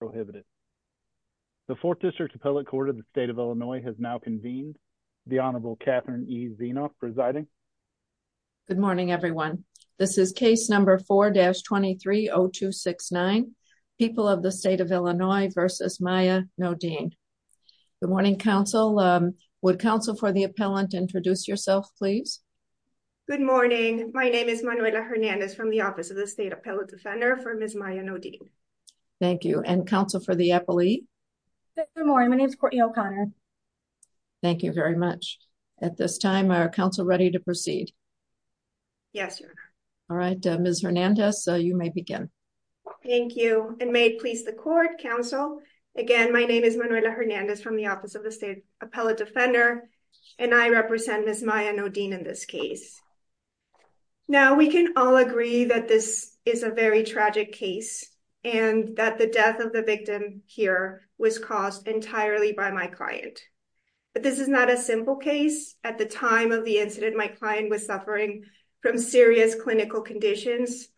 Good morning, everyone. This is case number 4-230269, People of the State of Illinois v. Maya Nodine. Good morning, counsel. Would counsel for the appellant introduce yourself, please? Good morning. My name is Manuela Hernandez from the Office of the State Appellate Defender for Ms. Maya Nodine. Thank you. And counsel for the appellee? Good morning. My name is Courtney O'Connor. Thank you very much. At this time, are counsel ready to proceed? Yes, Your Honor. All right. Ms. Hernandez, you may begin. Thank you. And may it please the court, counsel, again, my name is Manuela Hernandez from the Office of the State Appellate Defender, and I represent Ms. Maya Nodine in this case. Now, we can all agree that this is a very tragic case and that the death of the victim here was caused entirely by my client. But this is not a simple case. At the time of the incident, my client was suffering from serious clinical conditions,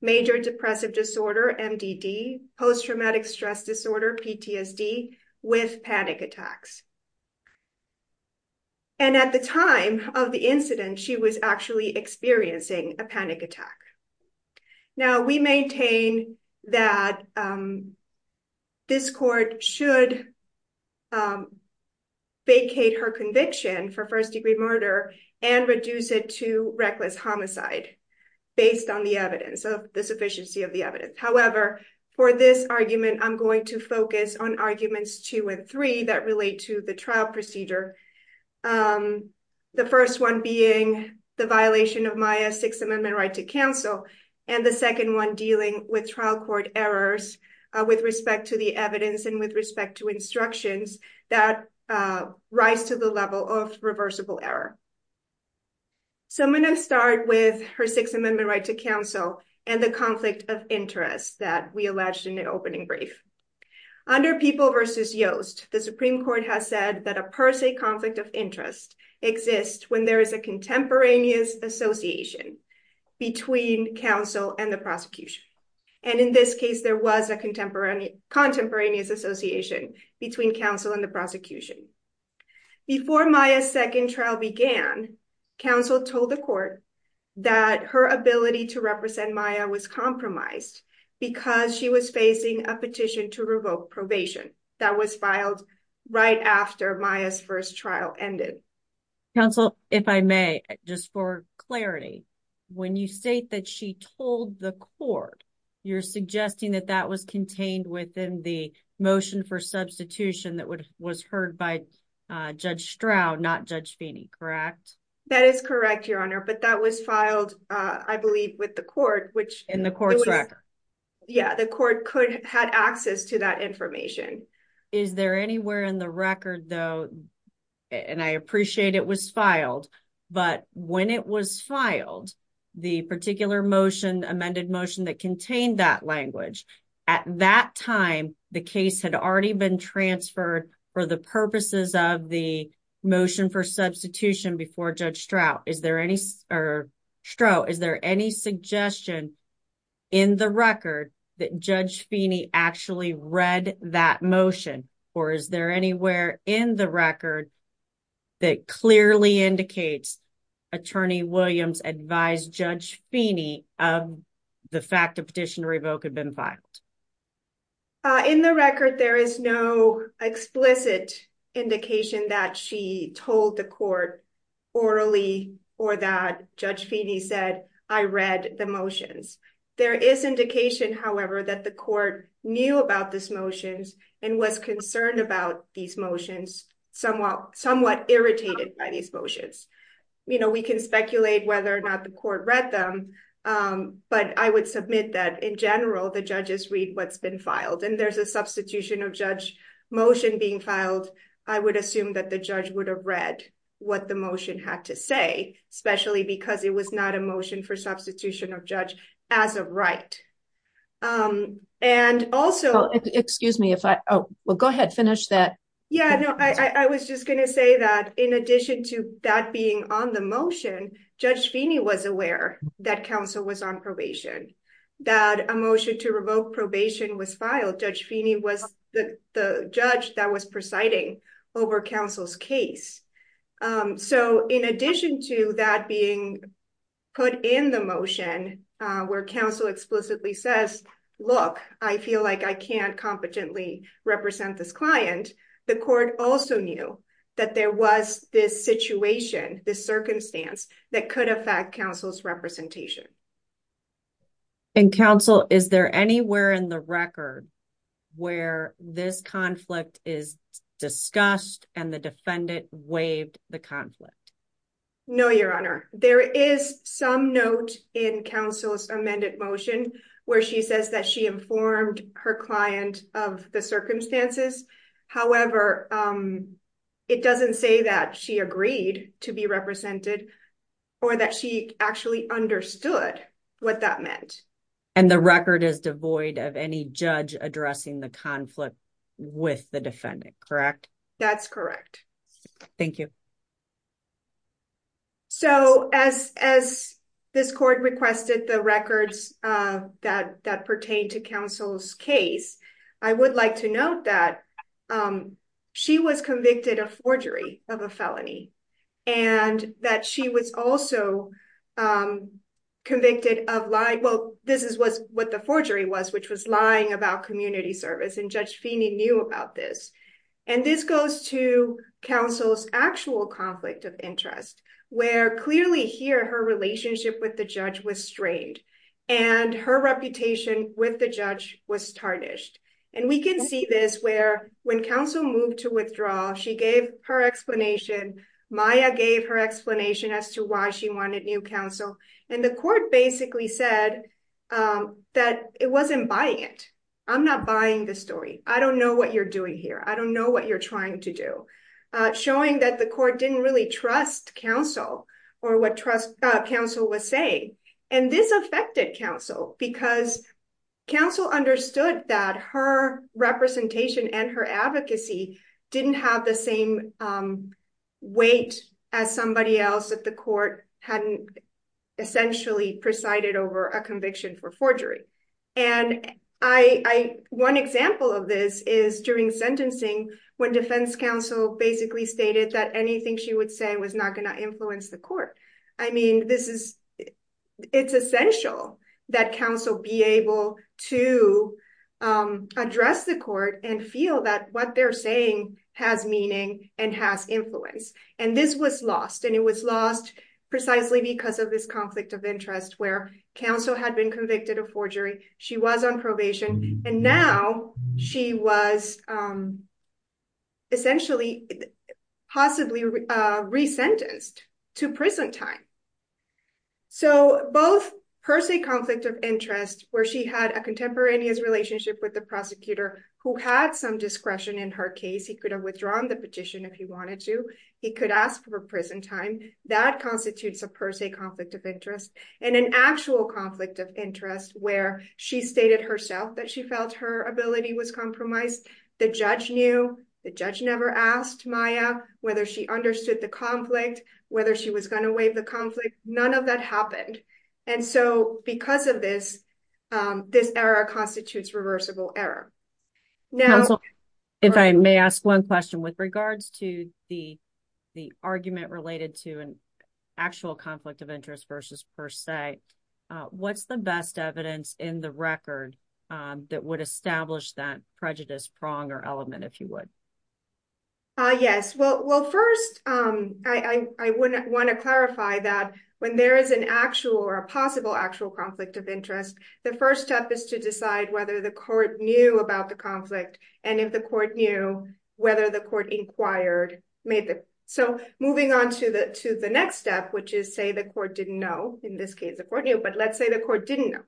major depressive disorder, MDD, post-traumatic stress disorder, PTSD, with panic attacks. And at the time of the incident, she was actually experiencing a panic attack. Now, we maintain that this court should vacate her conviction for first-degree murder and reduce it to reckless homicide based on the evidence, the sufficiency of the evidence. However, for this argument, I'm going to focus on arguments two and three that relate to the trial procedure. The first one being the violation of Maya's Sixth Amendment right to counsel, and the second one dealing with trial court errors with respect to the evidence and with respect to instructions that rise to the level of reversible error. So, I'm going to start with her Sixth Amendment right to counsel and the conflict of interest that we alleged in the opening brief. Under People v. Yost, the Supreme Court has said that a per se conflict of interest exists when there is a contemporaneous association between counsel and the prosecution. And in this case, there was a contemporaneous association between counsel and the prosecution. Before Maya's second trial began, counsel told the court that her ability to represent Maya was compromised because she was facing a petition to revoke probation that was filed right after Maya's first trial ended. Counsel, if I may, just for clarity, when you state that she told the court, you're suggesting that that was contained within the motion for substitution that was heard by Judge Stroud, not Judge Feeney, correct? That is correct, Your Honor, but that was filed, I believe, with the court, which... In the court's record. Yeah, the court could have had access to that information. Is there anywhere in the record, though, and I appreciate it was filed, but when it was filed, the particular motion, amended motion that contained that language, at that time, the case had already been transferred for the purposes of the motion for substitution before Judge Stroud. Is there any... Stroud, is there any suggestion in the record that Judge Feeney actually read that motion, or is there anywhere in the record that clearly indicates Attorney Williams advised Judge Feeney of the fact a petition to revoke had been filed? In the record, there is no explicit indication that she told the court orally, or that Judge Feeney said, I read the motions. There is indication, however, that the court knew about these motions and was concerned about these motions, somewhat irritated by these motions. You know, we can speculate whether or not the court read them, but I would submit that in what's been filed. And there's a substitution of judge motion being filed. I would assume that the judge would have read what the motion had to say, especially because it was not a motion for substitution of judge as a right. And also... Excuse me, if I... Oh, well, go ahead. Finish that. Yeah, no, I was just going to say that in addition to that being on the motion, Judge Feeney was aware that counsel was on probation, that a motion to revoke probation was filed. Judge Feeney was the judge that was presiding over counsel's case. So in addition to that being put in the motion, where counsel explicitly says, look, I feel like I can't competently represent this client, the court also knew that there was this situation, this that could affect counsel's representation. And counsel, is there anywhere in the record where this conflict is discussed and the defendant waived the conflict? No, Your Honor. There is some note in counsel's amended motion where she says that she informed her client of the circumstances. However, it doesn't say that she agreed to be represented. Or that she actually understood what that meant. And the record is devoid of any judge addressing the conflict with the defendant, correct? That's correct. Thank you. So as this court requested the records that pertain to counsel's case, I would like to note that she was convicted of forgery of a felony. And that she was also convicted of lying. Well, this is what the forgery was, which was lying about community service. And Judge Feeney knew about this. And this goes to counsel's actual conflict of interest, where clearly here her relationship with the judge was strained. And her reputation with the judge was tarnished. And we can see this where when counsel moved to withdraw, she gave her explanation. Maya gave her explanation as to why she wanted new counsel. And the court basically said that it wasn't buying it. I'm not buying the story. I don't know what you're doing here. I don't know what you're trying to do. Showing that the court didn't really trust counsel, or what trust counsel was saying. And this affected counsel, because counsel understood that her representation and her advocacy didn't have the same weight as somebody else that the court hadn't essentially presided over a conviction for forgery. And one example of this is during sentencing, when defense counsel basically stated that anything she would say was not going to influence the court. I mean, this is, it's essential that counsel be able to address the court and feel that what they're saying has meaning and has influence. And this was lost. And it was lost precisely because of this conflict of interest where counsel had been convicted of forgery. She was on probation. And now she was essentially possibly resentenced to prison time. So both per se conflict of interest, where she had a contemporaneous relationship with the prosecutor who had some discretion in her case, he could have withdrawn the petition if he wanted to, he could ask for prison time, that constitutes a per se conflict of interest, and an actual conflict of interest where she stated herself that she felt her ability was compromised. The judge knew the judge never asked Maya, whether she understood the conflict, whether she was going to waive the conflict, none of that happened. And so because of this, this error constitutes reversible error. Now, if I may ask one question with regards to the argument related to an actual conflict of interest versus per se, what's the best evidence in the record that would establish that prejudice prong or element, if you would? Ah, yes. Well, first, I want to clarify that when there is an actual or a possible actual conflict of interest, the first step is to decide whether the court knew about the conflict. And if the court knew, whether the court inquired. So moving on to the next step, which is say the court didn't know, in this case, the court knew, but let's say the court didn't know.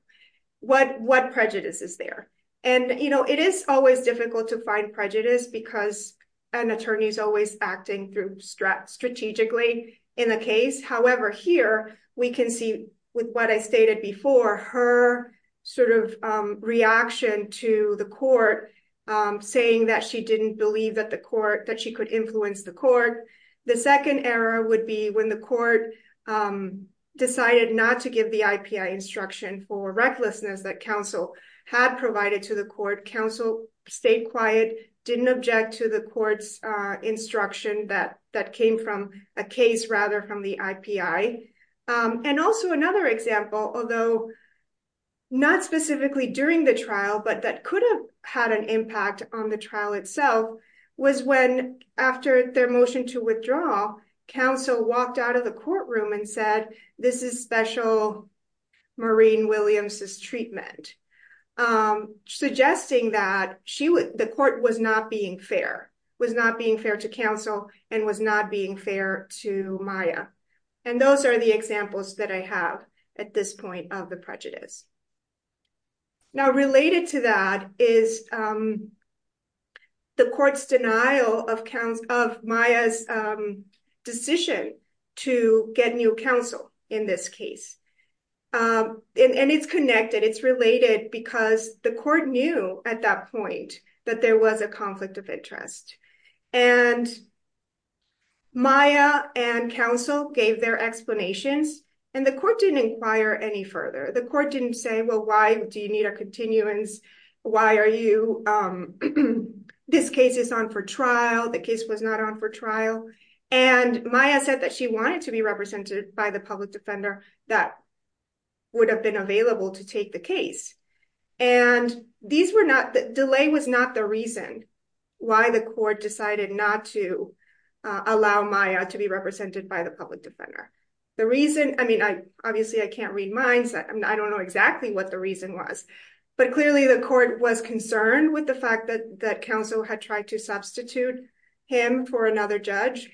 What prejudice is there? And, you know, it is always difficult to find prejudice because an attorney is always acting through strategically in a case. However, here, we can see with what I stated before, her sort of reaction to the court saying that she didn't believe that the court, that she could influence the court. The second error would be when the court um decided not to give the IPI instruction for recklessness that counsel had provided to the court. Counsel stayed quiet, didn't object to the court's instruction that that came from a case rather from the IPI. And also another example, although not specifically during the trial, but that could have had an impact on the trial itself, was when after their motion to this is special Maureen Williams' treatment. Suggesting that she would, the court was not being fair, was not being fair to counsel and was not being fair to Maya. And those are the examples that I have at this point of the prejudice. Now related to that is the court's of Maya's decision to get new counsel in this case. And it's connected, it's related because the court knew at that point that there was a conflict of interest. And Maya and counsel gave their explanations and the court didn't inquire any further. The court didn't say, well why do you need a continuance? Why are you, um, this case is on for trial, the case was not on for trial. And Maya said that she wanted to be represented by the public defender that would have been available to take the case. And these were not, the delay was not the reason why the court decided not to allow Maya to be represented by the public defender. The reason, I mean I obviously I can't read minds, I don't know exactly what the reason was, but clearly the court was concerned with the fact that that counsel had tried to substitute him for another judge.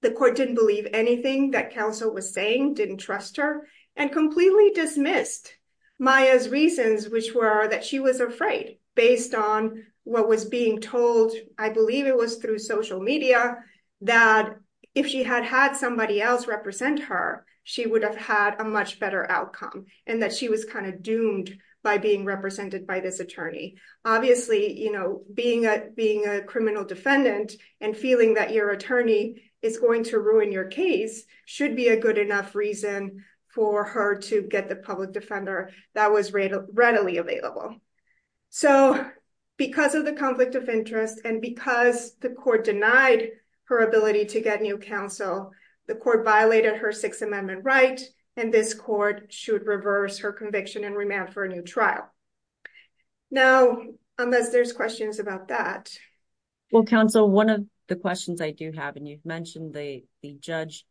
The court didn't believe anything that counsel was saying, didn't trust her, and completely dismissed Maya's reasons which were that she was afraid based on what was being told, I believe it was through social media, that if she had had somebody else represent her, she would have had a much better outcome. And that she was kind of doomed by being represented by this attorney. Obviously, you know, being a criminal defendant and feeling that your attorney is going to ruin your case should be a good enough reason for her to get the public defender that was readily available. So, because of the conflict of interest, and because the court denied her ability to get new counsel, the court violated her Sixth Amendment right, and this court should reverse her conviction and remand for a new trial. Now, unless there's questions about that. Well counsel, one of the questions I do have, and you've mentioned the judge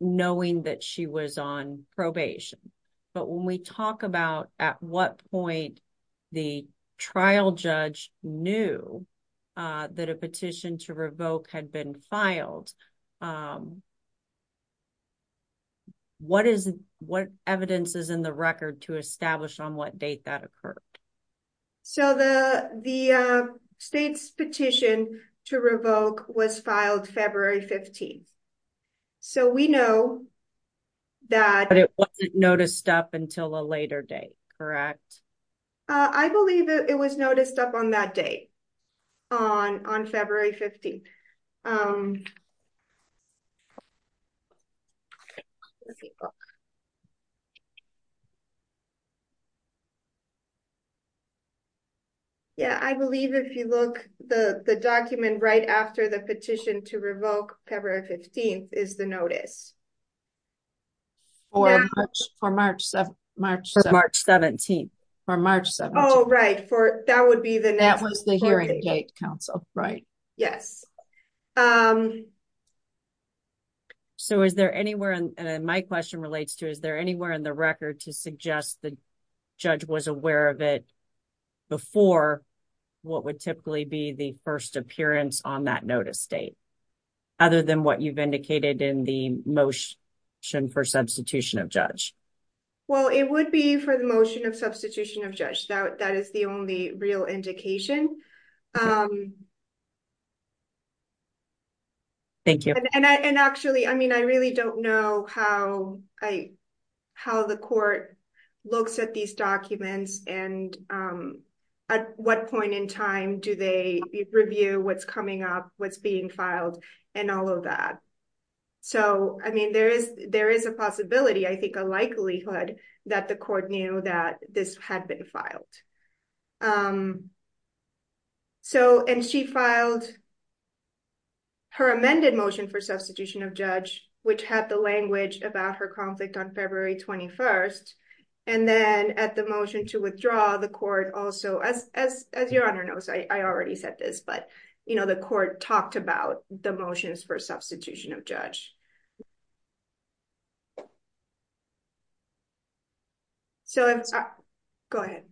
knowing that she was on the trial, the trial judge knew that a petition to revoke had been filed. What is, what evidence is in the record to establish on what date that occurred? So, the state's petition to revoke was filed February 15th. So, we know that it wasn't noticed up until a later date, correct? I believe it was noticed up on that date on February 15th. Yeah, I believe if you look, the document right after the petition to revoke February 15th is notice. For March 17th. For March 17th. Oh, right, that would be the hearing date, counsel. Right. Yes. So, is there anywhere, and my question relates to, is there anywhere in the record to suggest the judge was aware of it before what would typically be the first appearance on that notice date? Other than what you've indicated in the motion for substitution of judge. Well, it would be for the motion of substitution of judge. That is the only real indication. Thank you. And actually, I mean, I really don't know how the court looks at these documents and at what point in time do they review what's coming up, what's being filed, and all of that. So, I mean, there is a possibility, I think a likelihood that the court knew that this had been filed. So, and she filed her amended motion for substitution of judge, which had the language about her conflict on February 21st. And then at the motion to withdraw the court also, as your honor knows, I already said this, but you know, the court talked about the motions for substitution of judge. So, go ahead.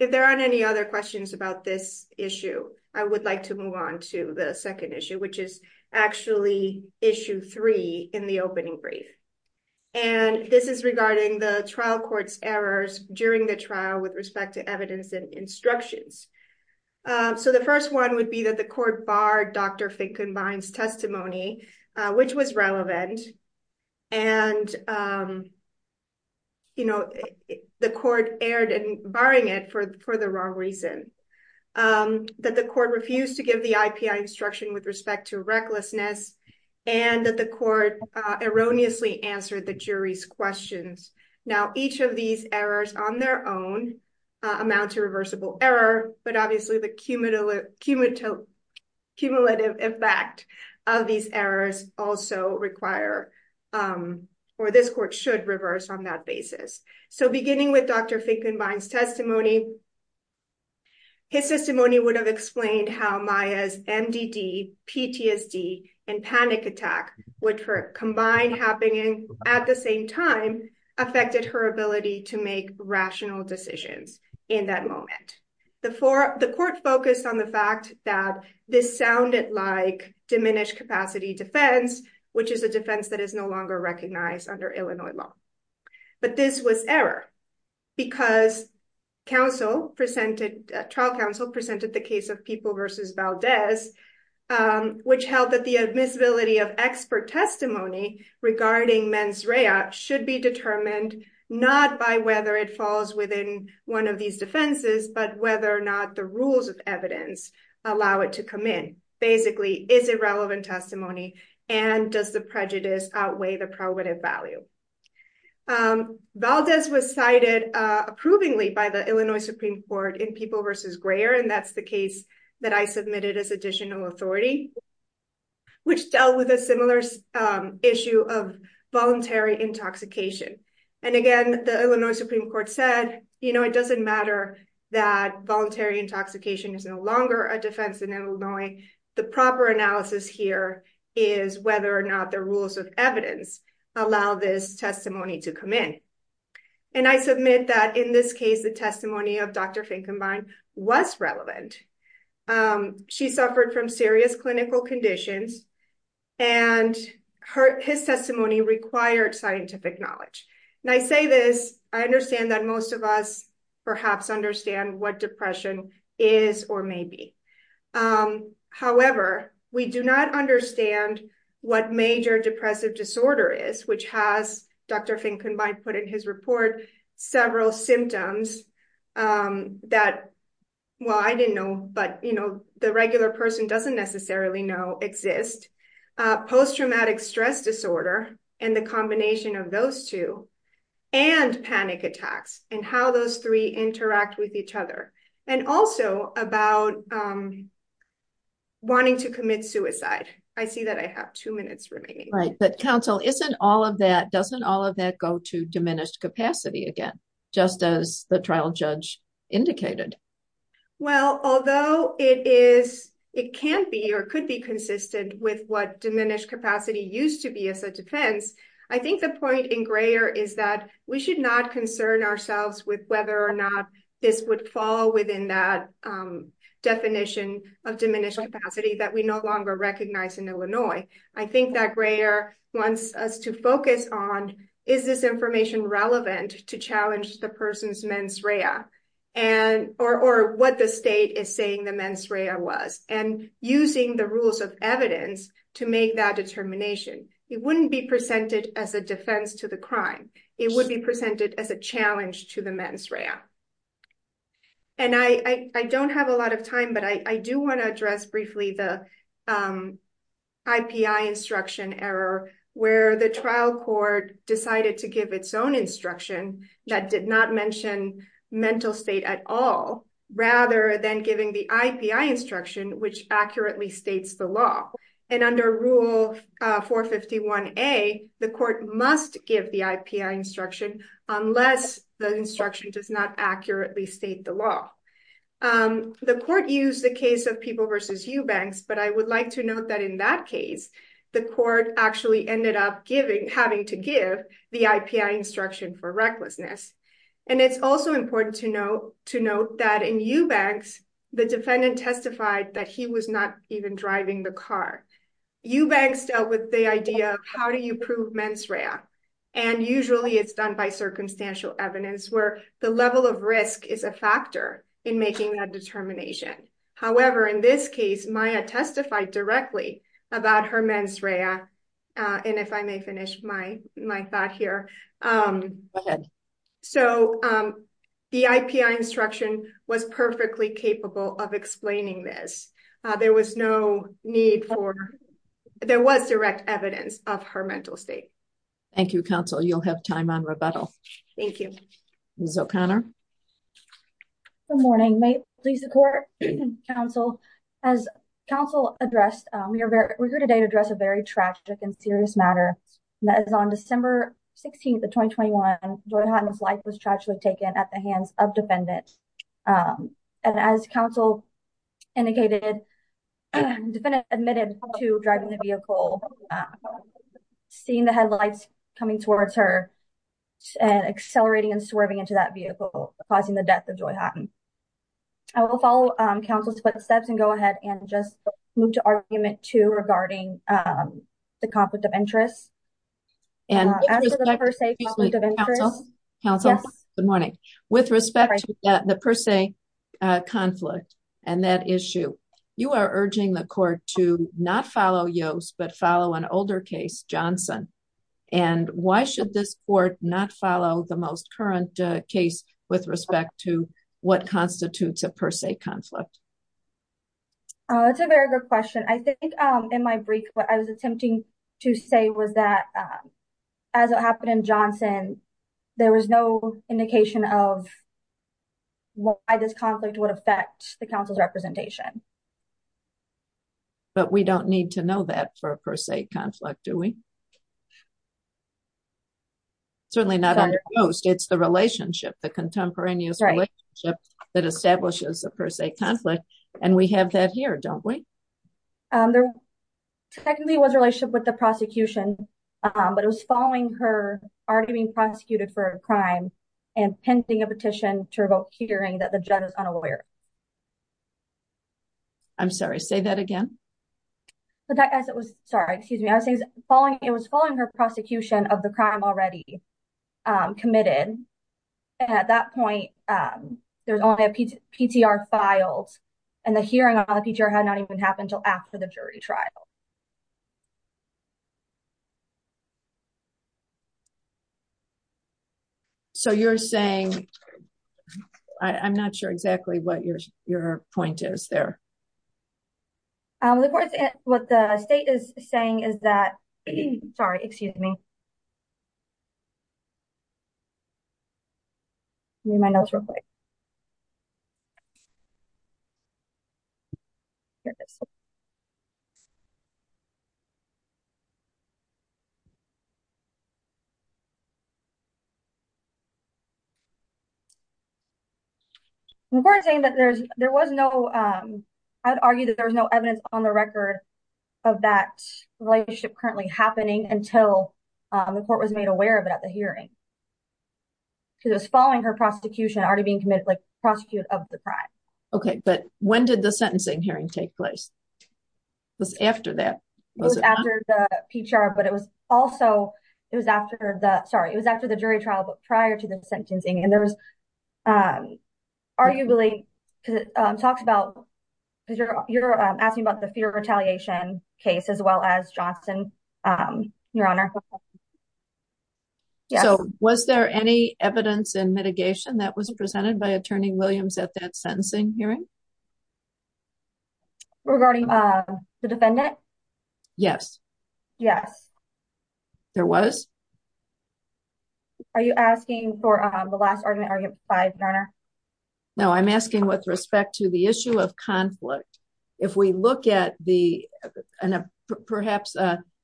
If there aren't any other questions about this issue, I would like to move on to the second issue, which is actually issue three in the opening brief. And this is regarding the trial court's errors during the trial with respect to evidence and instructions. So, the first one would be that the court barred Dr. Finkenbein's testimony, which was relevant. And, you know, the court erred in barring it for the wrong reason. That the court refused to give the IPI instruction with respect to recklessness, and that the court erroneously answered the jury's questions. Now, each of these errors on their own amount to reversible error, but obviously the cumulative effect of these errors also require, or this court should reverse on that basis. So, beginning with Dr. Finkenbein's testimony, his testimony would have explained how Maya's MDD, PTSD, and panic attack, which were combined happening at the same time, affected her ability to make rational decisions in that moment. The court focused on the fact that this sounded like diminished capacity defense, which is a defense that is no longer recognized under Illinois law. But this was error because trial counsel presented the case of People v. Valdez, which held that the admissibility of expert testimony regarding mens rea should be determined not by whether it falls within one of these defenses, but whether or not the rules of evidence allow it to come in. Basically, is irrelevant testimony and does prejudice outweigh the probative value. Valdez was cited approvingly by the Illinois Supreme Court in People v. Grayer, and that's the case that I submitted as additional authority, which dealt with a similar issue of voluntary intoxication. And again, the Illinois Supreme Court said, you know, it doesn't matter that voluntary intoxication is no longer a defense in Illinois. The proper analysis here is whether or not the rules of evidence allow this testimony to come in. And I submit that in this case, the testimony of Dr. Finkenbein was relevant. She suffered from serious clinical conditions, and his testimony required scientific knowledge. And I say this, I understand that most of us perhaps understand what depression is or may be. However, we do not understand what major depressive disorder is, which has, Dr. Finkenbein put in his report, several symptoms that, well, I didn't know, but, you know, the regular person doesn't necessarily exist, post-traumatic stress disorder, and the combination of those two, and panic attacks, and how those three interact with each other. And also about wanting to commit suicide. I see that I have two minutes remaining. Right. But counsel, isn't all of that, doesn't all of that go to diminished capacity again, just as the trial judge indicated? Well, although it is, it can be, or could be consistent with what diminished capacity used to be as a defense, I think the point in Greer is that we should not concern ourselves with whether or not this would fall within that definition of diminished capacity that we no longer recognize in Illinois. I think that Greer wants us to focus on, is this information relevant to challenge the person's mens rea, or what the state is saying the mens rea was, and using the rules of evidence to make that determination. It wouldn't be presented as a defense to the crime. It would be presented as a challenge to the mens rea. And I don't have a lot of time, but I do want to address briefly the IPI instruction error, where the trial court decided to give its own instruction that did not mention mental state at all, rather than giving the IPI instruction, which accurately states the law. And under Rule 451A, the court must give the IPI instruction unless the instruction does not accurately state the law. The court used the case of People versus Eubanks, but I would like to note that in that case, the court actually ended up having to give the IPI instruction for recklessness. And it's also important to note that in Eubanks, the defendant testified that he was not even driving the car. Eubanks dealt with the idea of how do you prove mens rea? And usually it's done by circumstantial evidence where the level of risk is a factor in making that determination. However, in this case, Maya testified directly about her mens rea. And if I may finish my thought here. So the IPI instruction was perfectly capable of explaining this. There was no need for, there was direct evidence of her mental state. Thank you, counsel. You'll have time on rebuttal. Thank you. Ms. O'Connor. Good morning. May it please the court and counsel. As counsel addressed, we're here today to address a very tragic and serious matter. That is on December 16th of 2021, Joy Hutton's life was tragically taken at the hands of defendants. And as counsel indicated, the defendant admitted to driving the vehicle, seeing the headlights coming towards her and accelerating and swerving into that vehicle, causing the death of Joy Hutton. I will follow counsel's footsteps and go ahead and just move to argument two regarding the conflict of interest. And as a per se conflict of interest. Good morning. With respect to the per se conflict and that issue, you are urging the court to not follow Yost but follow an older case, Johnson. And why should this court not follow the most current case with respect to what constitutes a per se conflict? It's a very good question. I think in my brief, what I was attempting to say was that as it happened in Johnson, there was no indication of why this conflict would affect the council's representation. But we don't need to know that for a per se conflict, do we? Certainly not under Yost, it's the relationship, the contemporaneous relationship that establishes a per se conflict. And we have that here, don't we? There technically was a relationship with the prosecution, but it was following her already being prosecuted for a crime and pending a petition to revoke hearing that the judge is unaware. I'm sorry, say that again. But as it was, sorry, excuse me, I was following, it was following her prosecution of the crime already committed. At that point, there's only a PTR filed, and the hearing on the PTR had not even happened until after the jury trial. So you're saying, I'm not sure exactly what your point is there. The court, what the state is saying is that, sorry, excuse me, remind us real quick. Here it is. The court is saying that there was no, I would argue that there was no evidence on the record of that relationship currently happening until the court was made aware of it at the hearing. She was following her prosecution already being committed, like prosecute of the crime. Okay, but when did the sentencing hearing take place? It was after that. It was after the PTR, but it was also, it was after the, sorry, it was after the jury trial, but prior to the sentencing. And there was arguably talks about, because you're asking about the fear of retaliation case as well as Johnson, your honor. So was there any evidence in mitigation that was presented by attorney Williams at that hearing regarding the defendant? Yes. Yes. There was, are you asking for the last argument? No, I'm asking with respect to the issue of conflict. If we look at the, and perhaps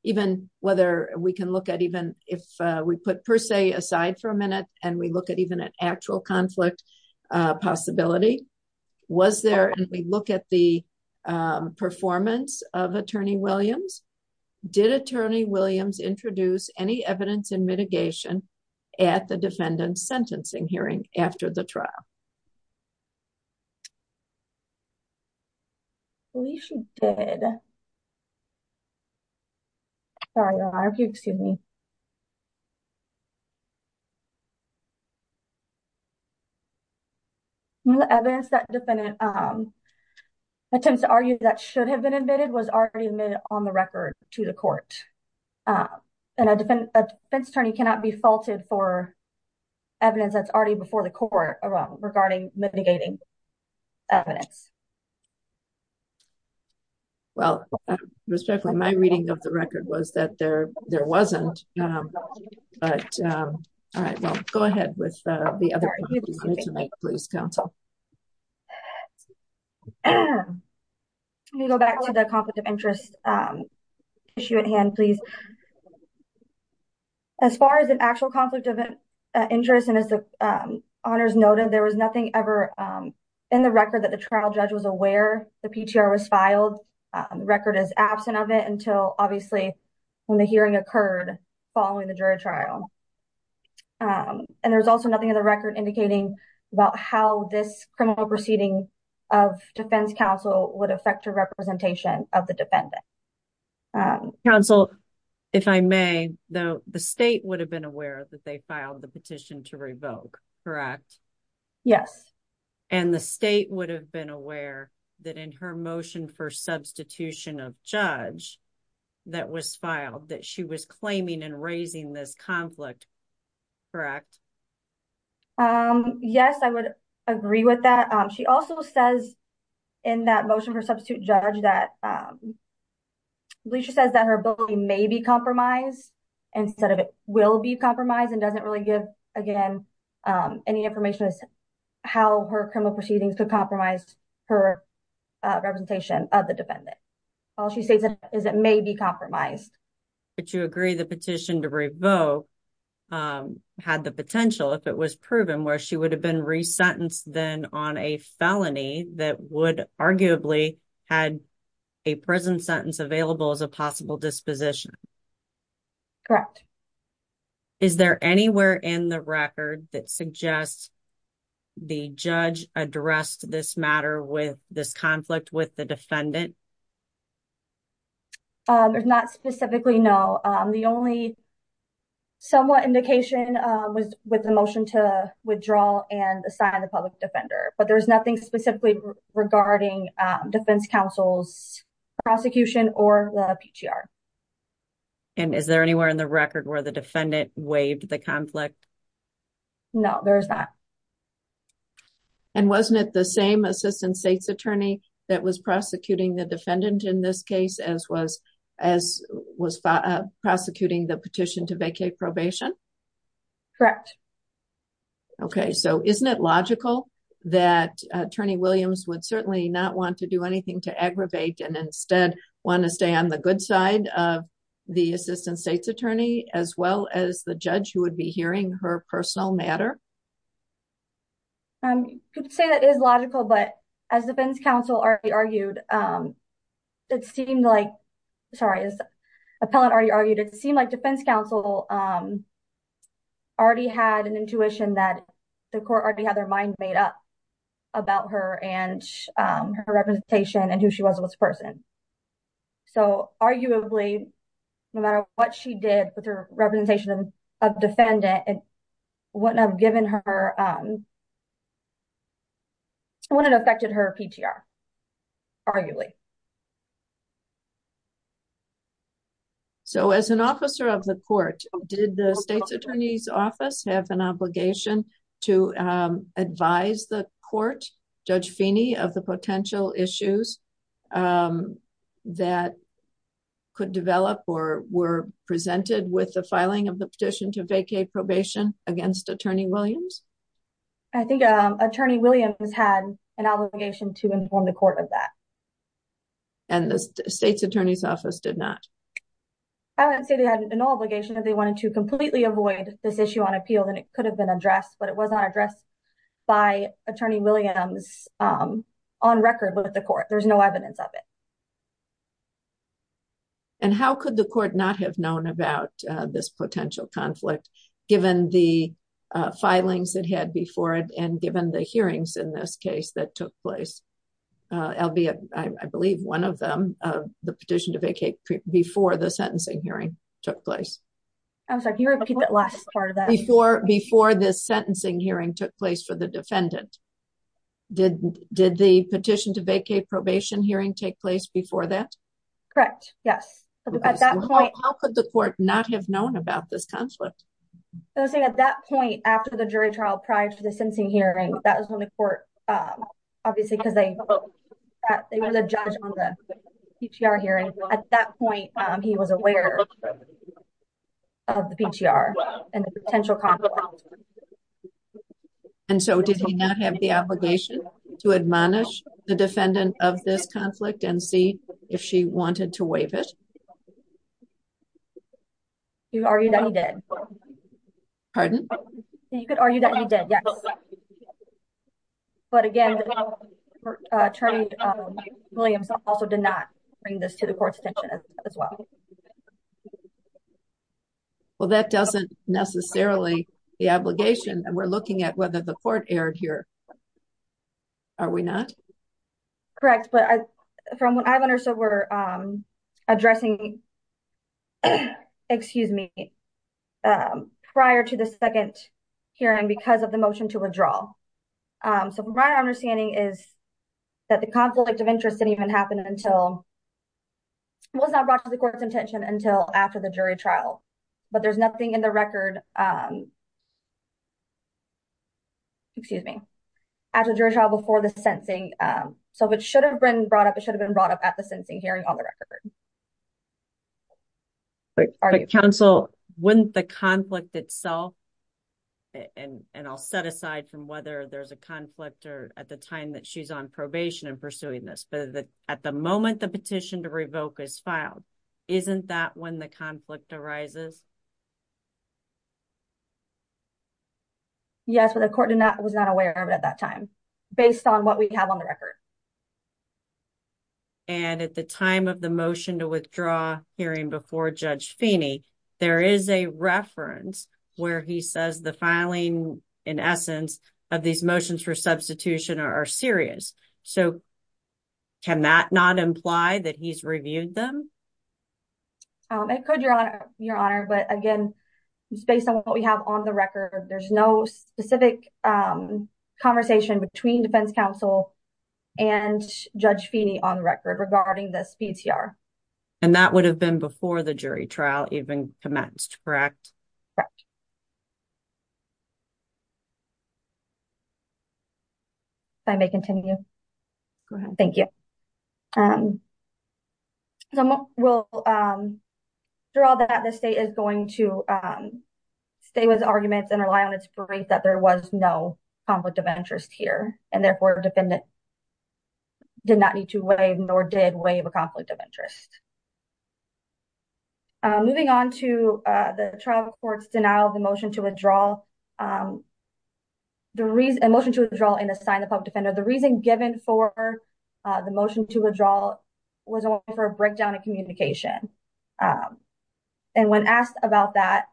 even whether we can look at even if we put per se aside for a minute and we look at even an actual conflict possibility, was there, and we look at the performance of attorney Williams, did attorney Williams introduce any evidence in mitigation at the defendant's sentencing hearing after the trial? I believe she did. Sorry, your honor, if you'll excuse me. No evidence that defendant attempts to argue that should have been admitted was already admitted on the record to the court. And a defense attorney cannot be faulted for evidence that's already before the court regarding mitigating evidence. Well, respectfully, my reading of the record was that there wasn't, but, all right, well, go ahead with the other. Let me go back to the conflict of interest issue at hand, please. So, as far as an actual conflict of interest, and as the honors noted, there was nothing ever in the record that the trial judge was aware the PTR was filed. The record is absent of it until obviously when the hearing occurred following the jury trial. And there was also nothing in the record indicating about how this criminal proceeding of defense counsel would affect representation of the defendant. Counsel, if I may, the state would have been aware that they filed the petition to revoke, correct? Yes. And the state would have been aware that in her motion for substitution of judge that was filed that she was claiming and raising this conflict, correct? Yes, I would agree with that. She also says in that motion for substitute judge that Bleacher says that her ability may be compromised instead of it will be compromised and doesn't really give, again, any information as to how her criminal proceedings could compromise her representation of the defendant. All she says is it may be compromised. But you agree the petition to revoke had the potential if it was proven where she would have been resentenced then on a felony that would arguably had a prison sentence available as a possible disposition. Correct. Is there anywhere in the record that suggests the judge addressed this matter with this conflict with the defendant? Not specifically, no. The only somewhat indication was with the motion to withdraw and assign the public defender. But there's nothing specifically regarding defense counsel's prosecution or the PTR. And is there anywhere in the record where the defendant waived the conflict? No, there's not. And wasn't it the same assistant state's attorney that was prosecuting the defendant in this case as was as was prosecuting the petition to vacate probation? Correct. Okay, so isn't it logical that attorney Williams would certainly not want to do anything to aggravate and instead want to stay on the good side of the assistant state's attorney as well as the judge who would be hearing her personal matter? Could say that is logical. But as defense counsel already argued, it seemed like sorry, as appellant already argued, it seemed like defense counsel already had an intuition that the court already had their mind made up about her and her representation and who she was as a person. So arguably, no matter what she did with her of defendant and what I've given her when it affected her PTR, arguably. So as an officer of the court, did the state's attorney's office have an obligation to advise the court, Judge Feeney of the potential issues that could develop or presented with the filing of the petition to vacate probation against attorney Williams? I think attorney Williams has had an obligation to inform the court of that. And the state's attorney's office did not? I would say they had an obligation if they wanted to completely avoid this issue on appeal, then it could have been addressed, but it was not addressed by attorney Williams. On record with the court, there's no evidence of it. And how could the court not have known about this potential conflict, given the filings that had before it and given the hearings in this case that took place? Albeit, I believe one of them, the petition to vacate before the sentencing hearing took place. I was like, you're looking at last part of that before before this sentencing hearing took place for the defendant. Did the petition to vacate probation hearing take place before that? Correct. Yes. At that point, how could the court not have known about this conflict? I was saying at that point, after the jury trial prior to the sentencing hearing, that was when the court, obviously, because they were the judge on the PTR hearing. At that point, he was aware of the PTR and the potential conflict. And so did he not have the obligation to admonish the defendant of this conflict and see if she wanted to waive it? He argued that he did. Pardon? You could argue that he did, yes. But again, attorney Williams also did not bring this to the court's attention as well. Well, that doesn't necessarily the obligation and we're looking at whether the court erred here. Are we not? Correct. But from what I've understood, we're addressing, excuse me, prior to the second hearing because of the motion to withdraw. So my understanding is that the conflict of interest didn't even happen until it was not brought to the court's attention until after the jury trial. But there's nothing in the record, excuse me, after the jury trial before the sentencing. So it should have been brought up, it should have been brought up at the sentencing hearing on the record. But counsel, wouldn't the conflict itself, and I'll set aside from whether there's a conflict or at the time that she's on probation and pursuing this, but at the moment the petition to revoke is filed, isn't that when the conflict arises? Yes, but the court was not aware of it at that time based on what we have on the record. And at the time of the motion to withdraw hearing before Judge Feeney, there is a reference where he says the filing, in essence, of these motions for substitution are serious. So can that not imply that he's reviewed them? It could, Your Honor, but again, it's based on what we have on the record. There's no specific conversation between defense counsel and Judge Feeney on record regarding this PTR. And that would have been before the jury trial even commenced, correct? If I may continue. Go ahead. Thank you. So we'll draw that the state is going to stay with arguments and rely on its brief that there was no conflict of interest here and therefore defendant did not need to waive nor did waive a conflict of interest. Moving on to the trial court's denial of the motion to withdraw. The reason motion to withdraw and assign the public defender, the reason given for the motion to withdraw was for a breakdown in communication. And when asked about that,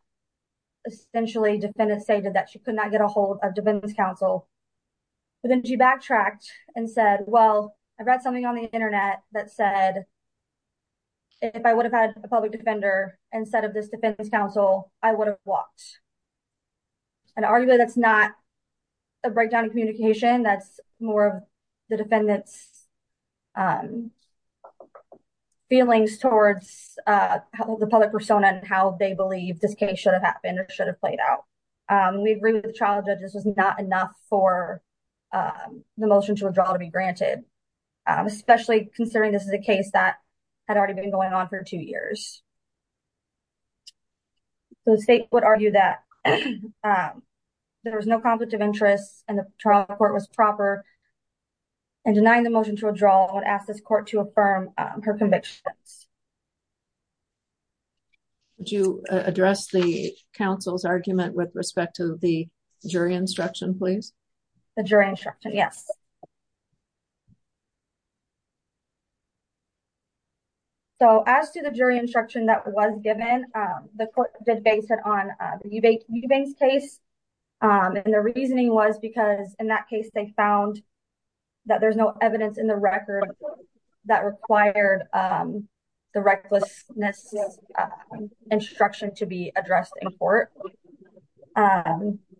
essentially, defendants stated that she could not get a hold of defense counsel. But then she backtracked and said, well, I read something on the Internet that said if I would have had a public defender instead of this defense counsel, I would have walked. And arguably, that's not a breakdown in communication. That's more of the defendants feelings towards the public persona and how they believe this case should have happened or should have played out. We agree with the trial judges was not enough for the motion to withdraw to be granted, especially considering this is a case that had already been going on for two years. The state would argue that there was no conflict of interest and the trial court was proper and denying the motion to withdraw and ask this court to affirm her convictions. Would you address the counsel's argument with respect to the jury instruction, please? The jury instruction, yes. So as to the jury instruction that was given, the court did base it on the case. And the reasoning was because in that case, they found that there's no evidence in the record that required the recklessness instruction to be addressed in court.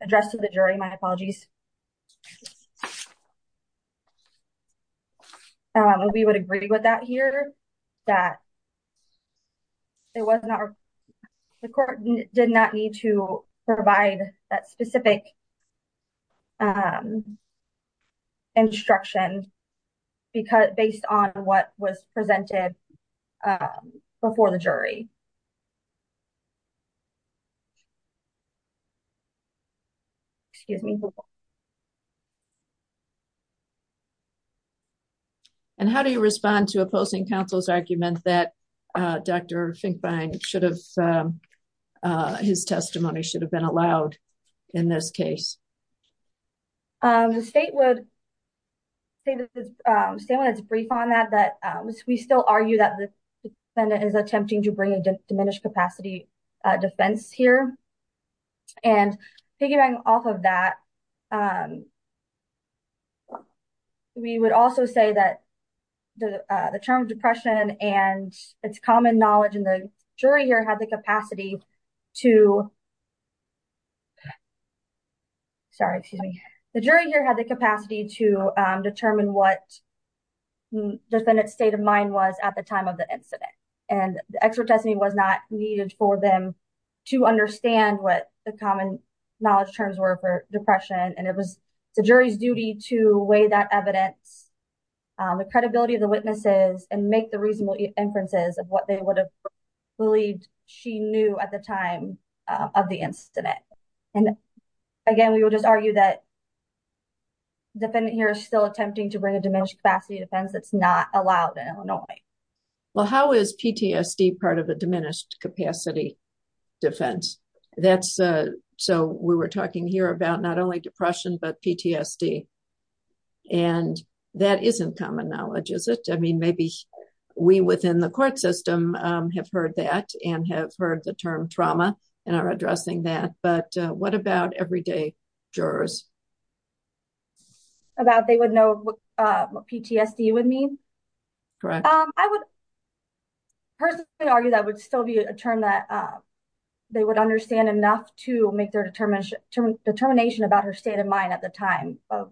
Addressed to the jury, my apologies. We would agree with that here that the court did not need to provide that specific instruction based on what was presented before the jury. Excuse me. And how do you respond to opposing counsel's argument that Dr. Finkbein should have, his testimony should have been allowed in this case? The state would say that, say when it's brief on that, that we still argue that the defendant is attempting to bring a diminished capacity defense here. And piggybacking off of that, we would also say that the term depression and its common knowledge in the jury here had the capacity to, sorry, excuse me. The jury here had the capacity to determine what the defendant's state of mind was at the time of the incident. And the expert testimony was not needed for them to understand what the common knowledge terms were for depression. And it was the jury's duty to weigh that evidence, the credibility of the witnesses, and make the reasonable inferences of what they would have believed she knew at the time of the incident. And again, we will just argue that the defendant here is still attempting to bring a diminished capacity defense that's not allowed in Illinois. Well, how is PTSD part of a diminished capacity defense? So we were talking here about not only depression, but PTSD. And that isn't common knowledge, is it? I mean, maybe we within the court system have heard that and have heard the term trauma and are addressing that. But what about everyday jurors? About they would know what PTSD would mean? Correct. I would personally argue that would still be a term that they would understand enough to make their determination about her state of mind at the time of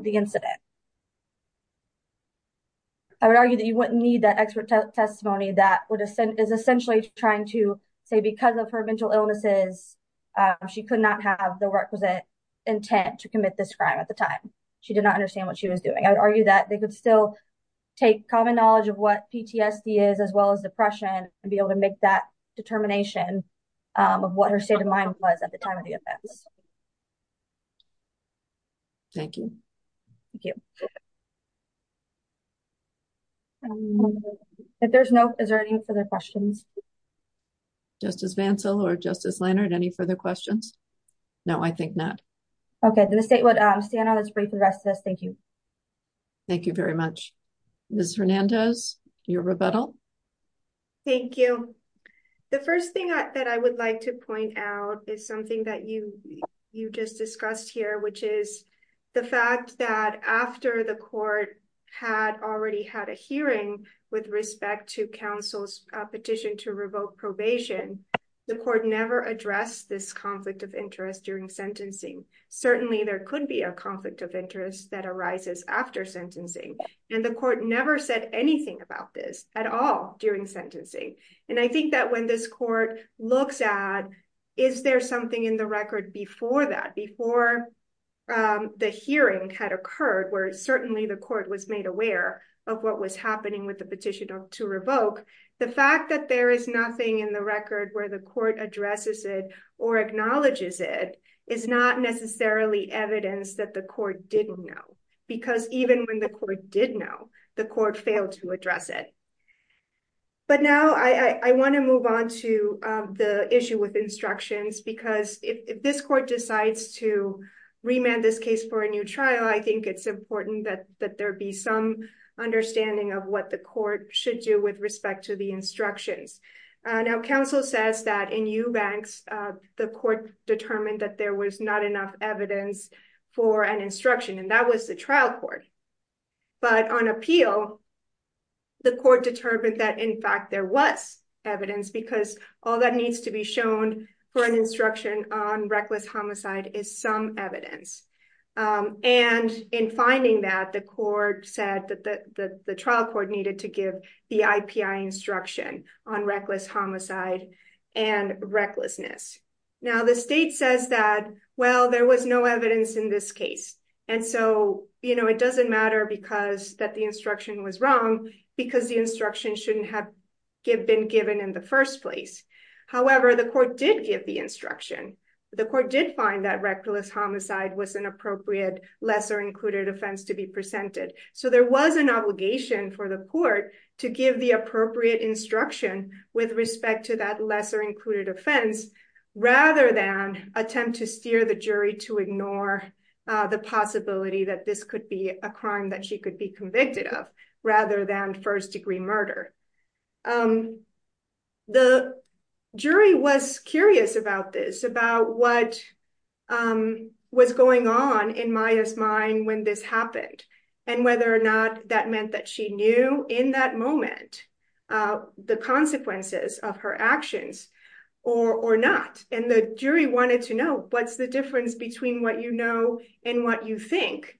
the incident. I would argue that you wouldn't need that expert testimony that is essentially trying to say because of her mental illnesses, she could not have the requisite intent to commit this crime at the time. She did not understand what she was doing. I would argue that they could still take common knowledge of what PTSD is, as well as depression, and be able to make that determination of what her state of mind was at the time of the events. Thank you. Thank you. If there's no, is there any further questions? Justice Vansel or Justice Leonard, any further questions? No, I think not. Okay. Then the state would stand on this brief and rest of us. Thank you. Thank you very much. Ms. Hernandez, your rebuttal. Thank you. The first thing that I would like to point out is something that you just discussed here, which is the fact that after the court had already had a hearing with respect to counsel's petition to revoke probation, the court never addressed this conflict of interest during sentencing. Certainly, there could be a conflict of interest that arises after sentencing, and the court never said anything about this at all during sentencing. I think that when this court looks at, is there something in the record before that, before the hearing had occurred, where certainly the court was made aware of what was happening with the petition to revoke, the fact that there is nothing in the record where the court addresses it or acknowledges it is not necessarily evidence that the court didn't know. Because even when the court did know, the court failed to address it. But now I want to move on to the issue with instructions, because if this court decides to remand this case for a new trial, I think it's important that there be some understanding Now, counsel says that in Eubanks, the court determined that there was not enough evidence for an instruction, and that was the trial court. But on appeal, the court determined that, in fact, there was evidence, because all that needs to be shown for an instruction on reckless homicide is some evidence. And in finding that, the court said that the trial court needed to give the IPI instruction on reckless homicide and recklessness. Now, the state says that, well, there was no evidence in this case. And so, you know, it doesn't matter because that the instruction was wrong, because the instruction shouldn't have been given in the first place. However, the court did give the instruction. The court did find that reckless homicide was an appropriate lesser included offense to be presented. So there was an obligation for the court to give the appropriate instruction with respect to that lesser included offense, rather than attempt to steer the jury to ignore the possibility that this could be a crime that she could be convicted of, rather than first degree murder. The jury was curious about this, about what was going on in Maya's mind when this happened. And whether or not that meant that she knew in that moment, the consequences of her actions or not. And the jury wanted to know, what's the difference between what you know and what you think?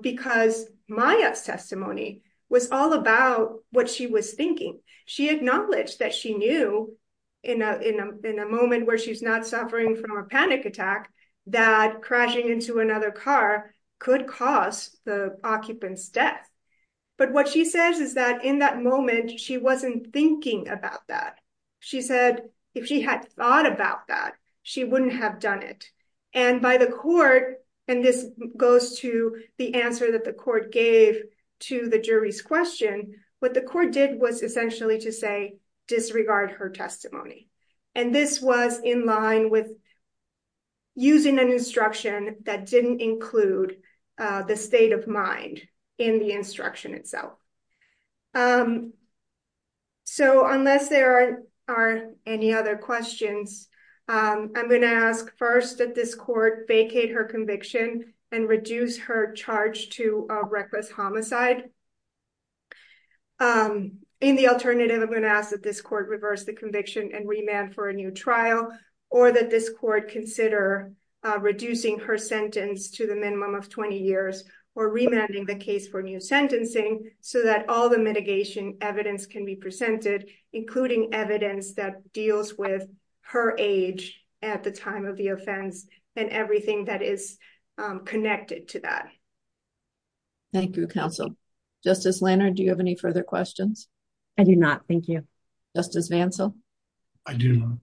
Because Maya's testimony was all about what she was thinking. She acknowledged that she knew in a moment where she's not suffering from a panic attack, that crashing into another car could cause the occupant's death. But what she says is that in that moment, she wasn't thinking about that. She said, if she had thought about that, she wouldn't have done it. And by the court, and this goes to the answer that the court gave to the jury's question, what the court did was essentially to say, disregard her testimony. And this was in line with using an instruction that didn't include the state of mind in the instruction itself. So unless there are any other questions, I'm going to ask first that this court vacate her conviction and reduce her charge to a reckless homicide. In the alternative, I'm going to ask that this court reverse the conviction and remand for a new trial, or that this court consider reducing her sentence to the minimum of 20 years or remanding the case for new sentencing so that all the mitigation evidence can be presented, including evidence that deals with her age at the time of the offense and everything that is connected to that. Thank you, counsel. Justice Lannard, do you have any further questions? I do not. Thank you. Justice Vancell? I do not.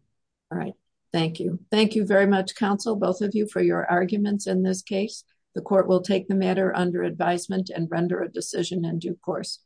All right. Thank you. Thank you very much, counsel, both of you, for your arguments in this case. The court will take the matter under advisement and render a decision in due course.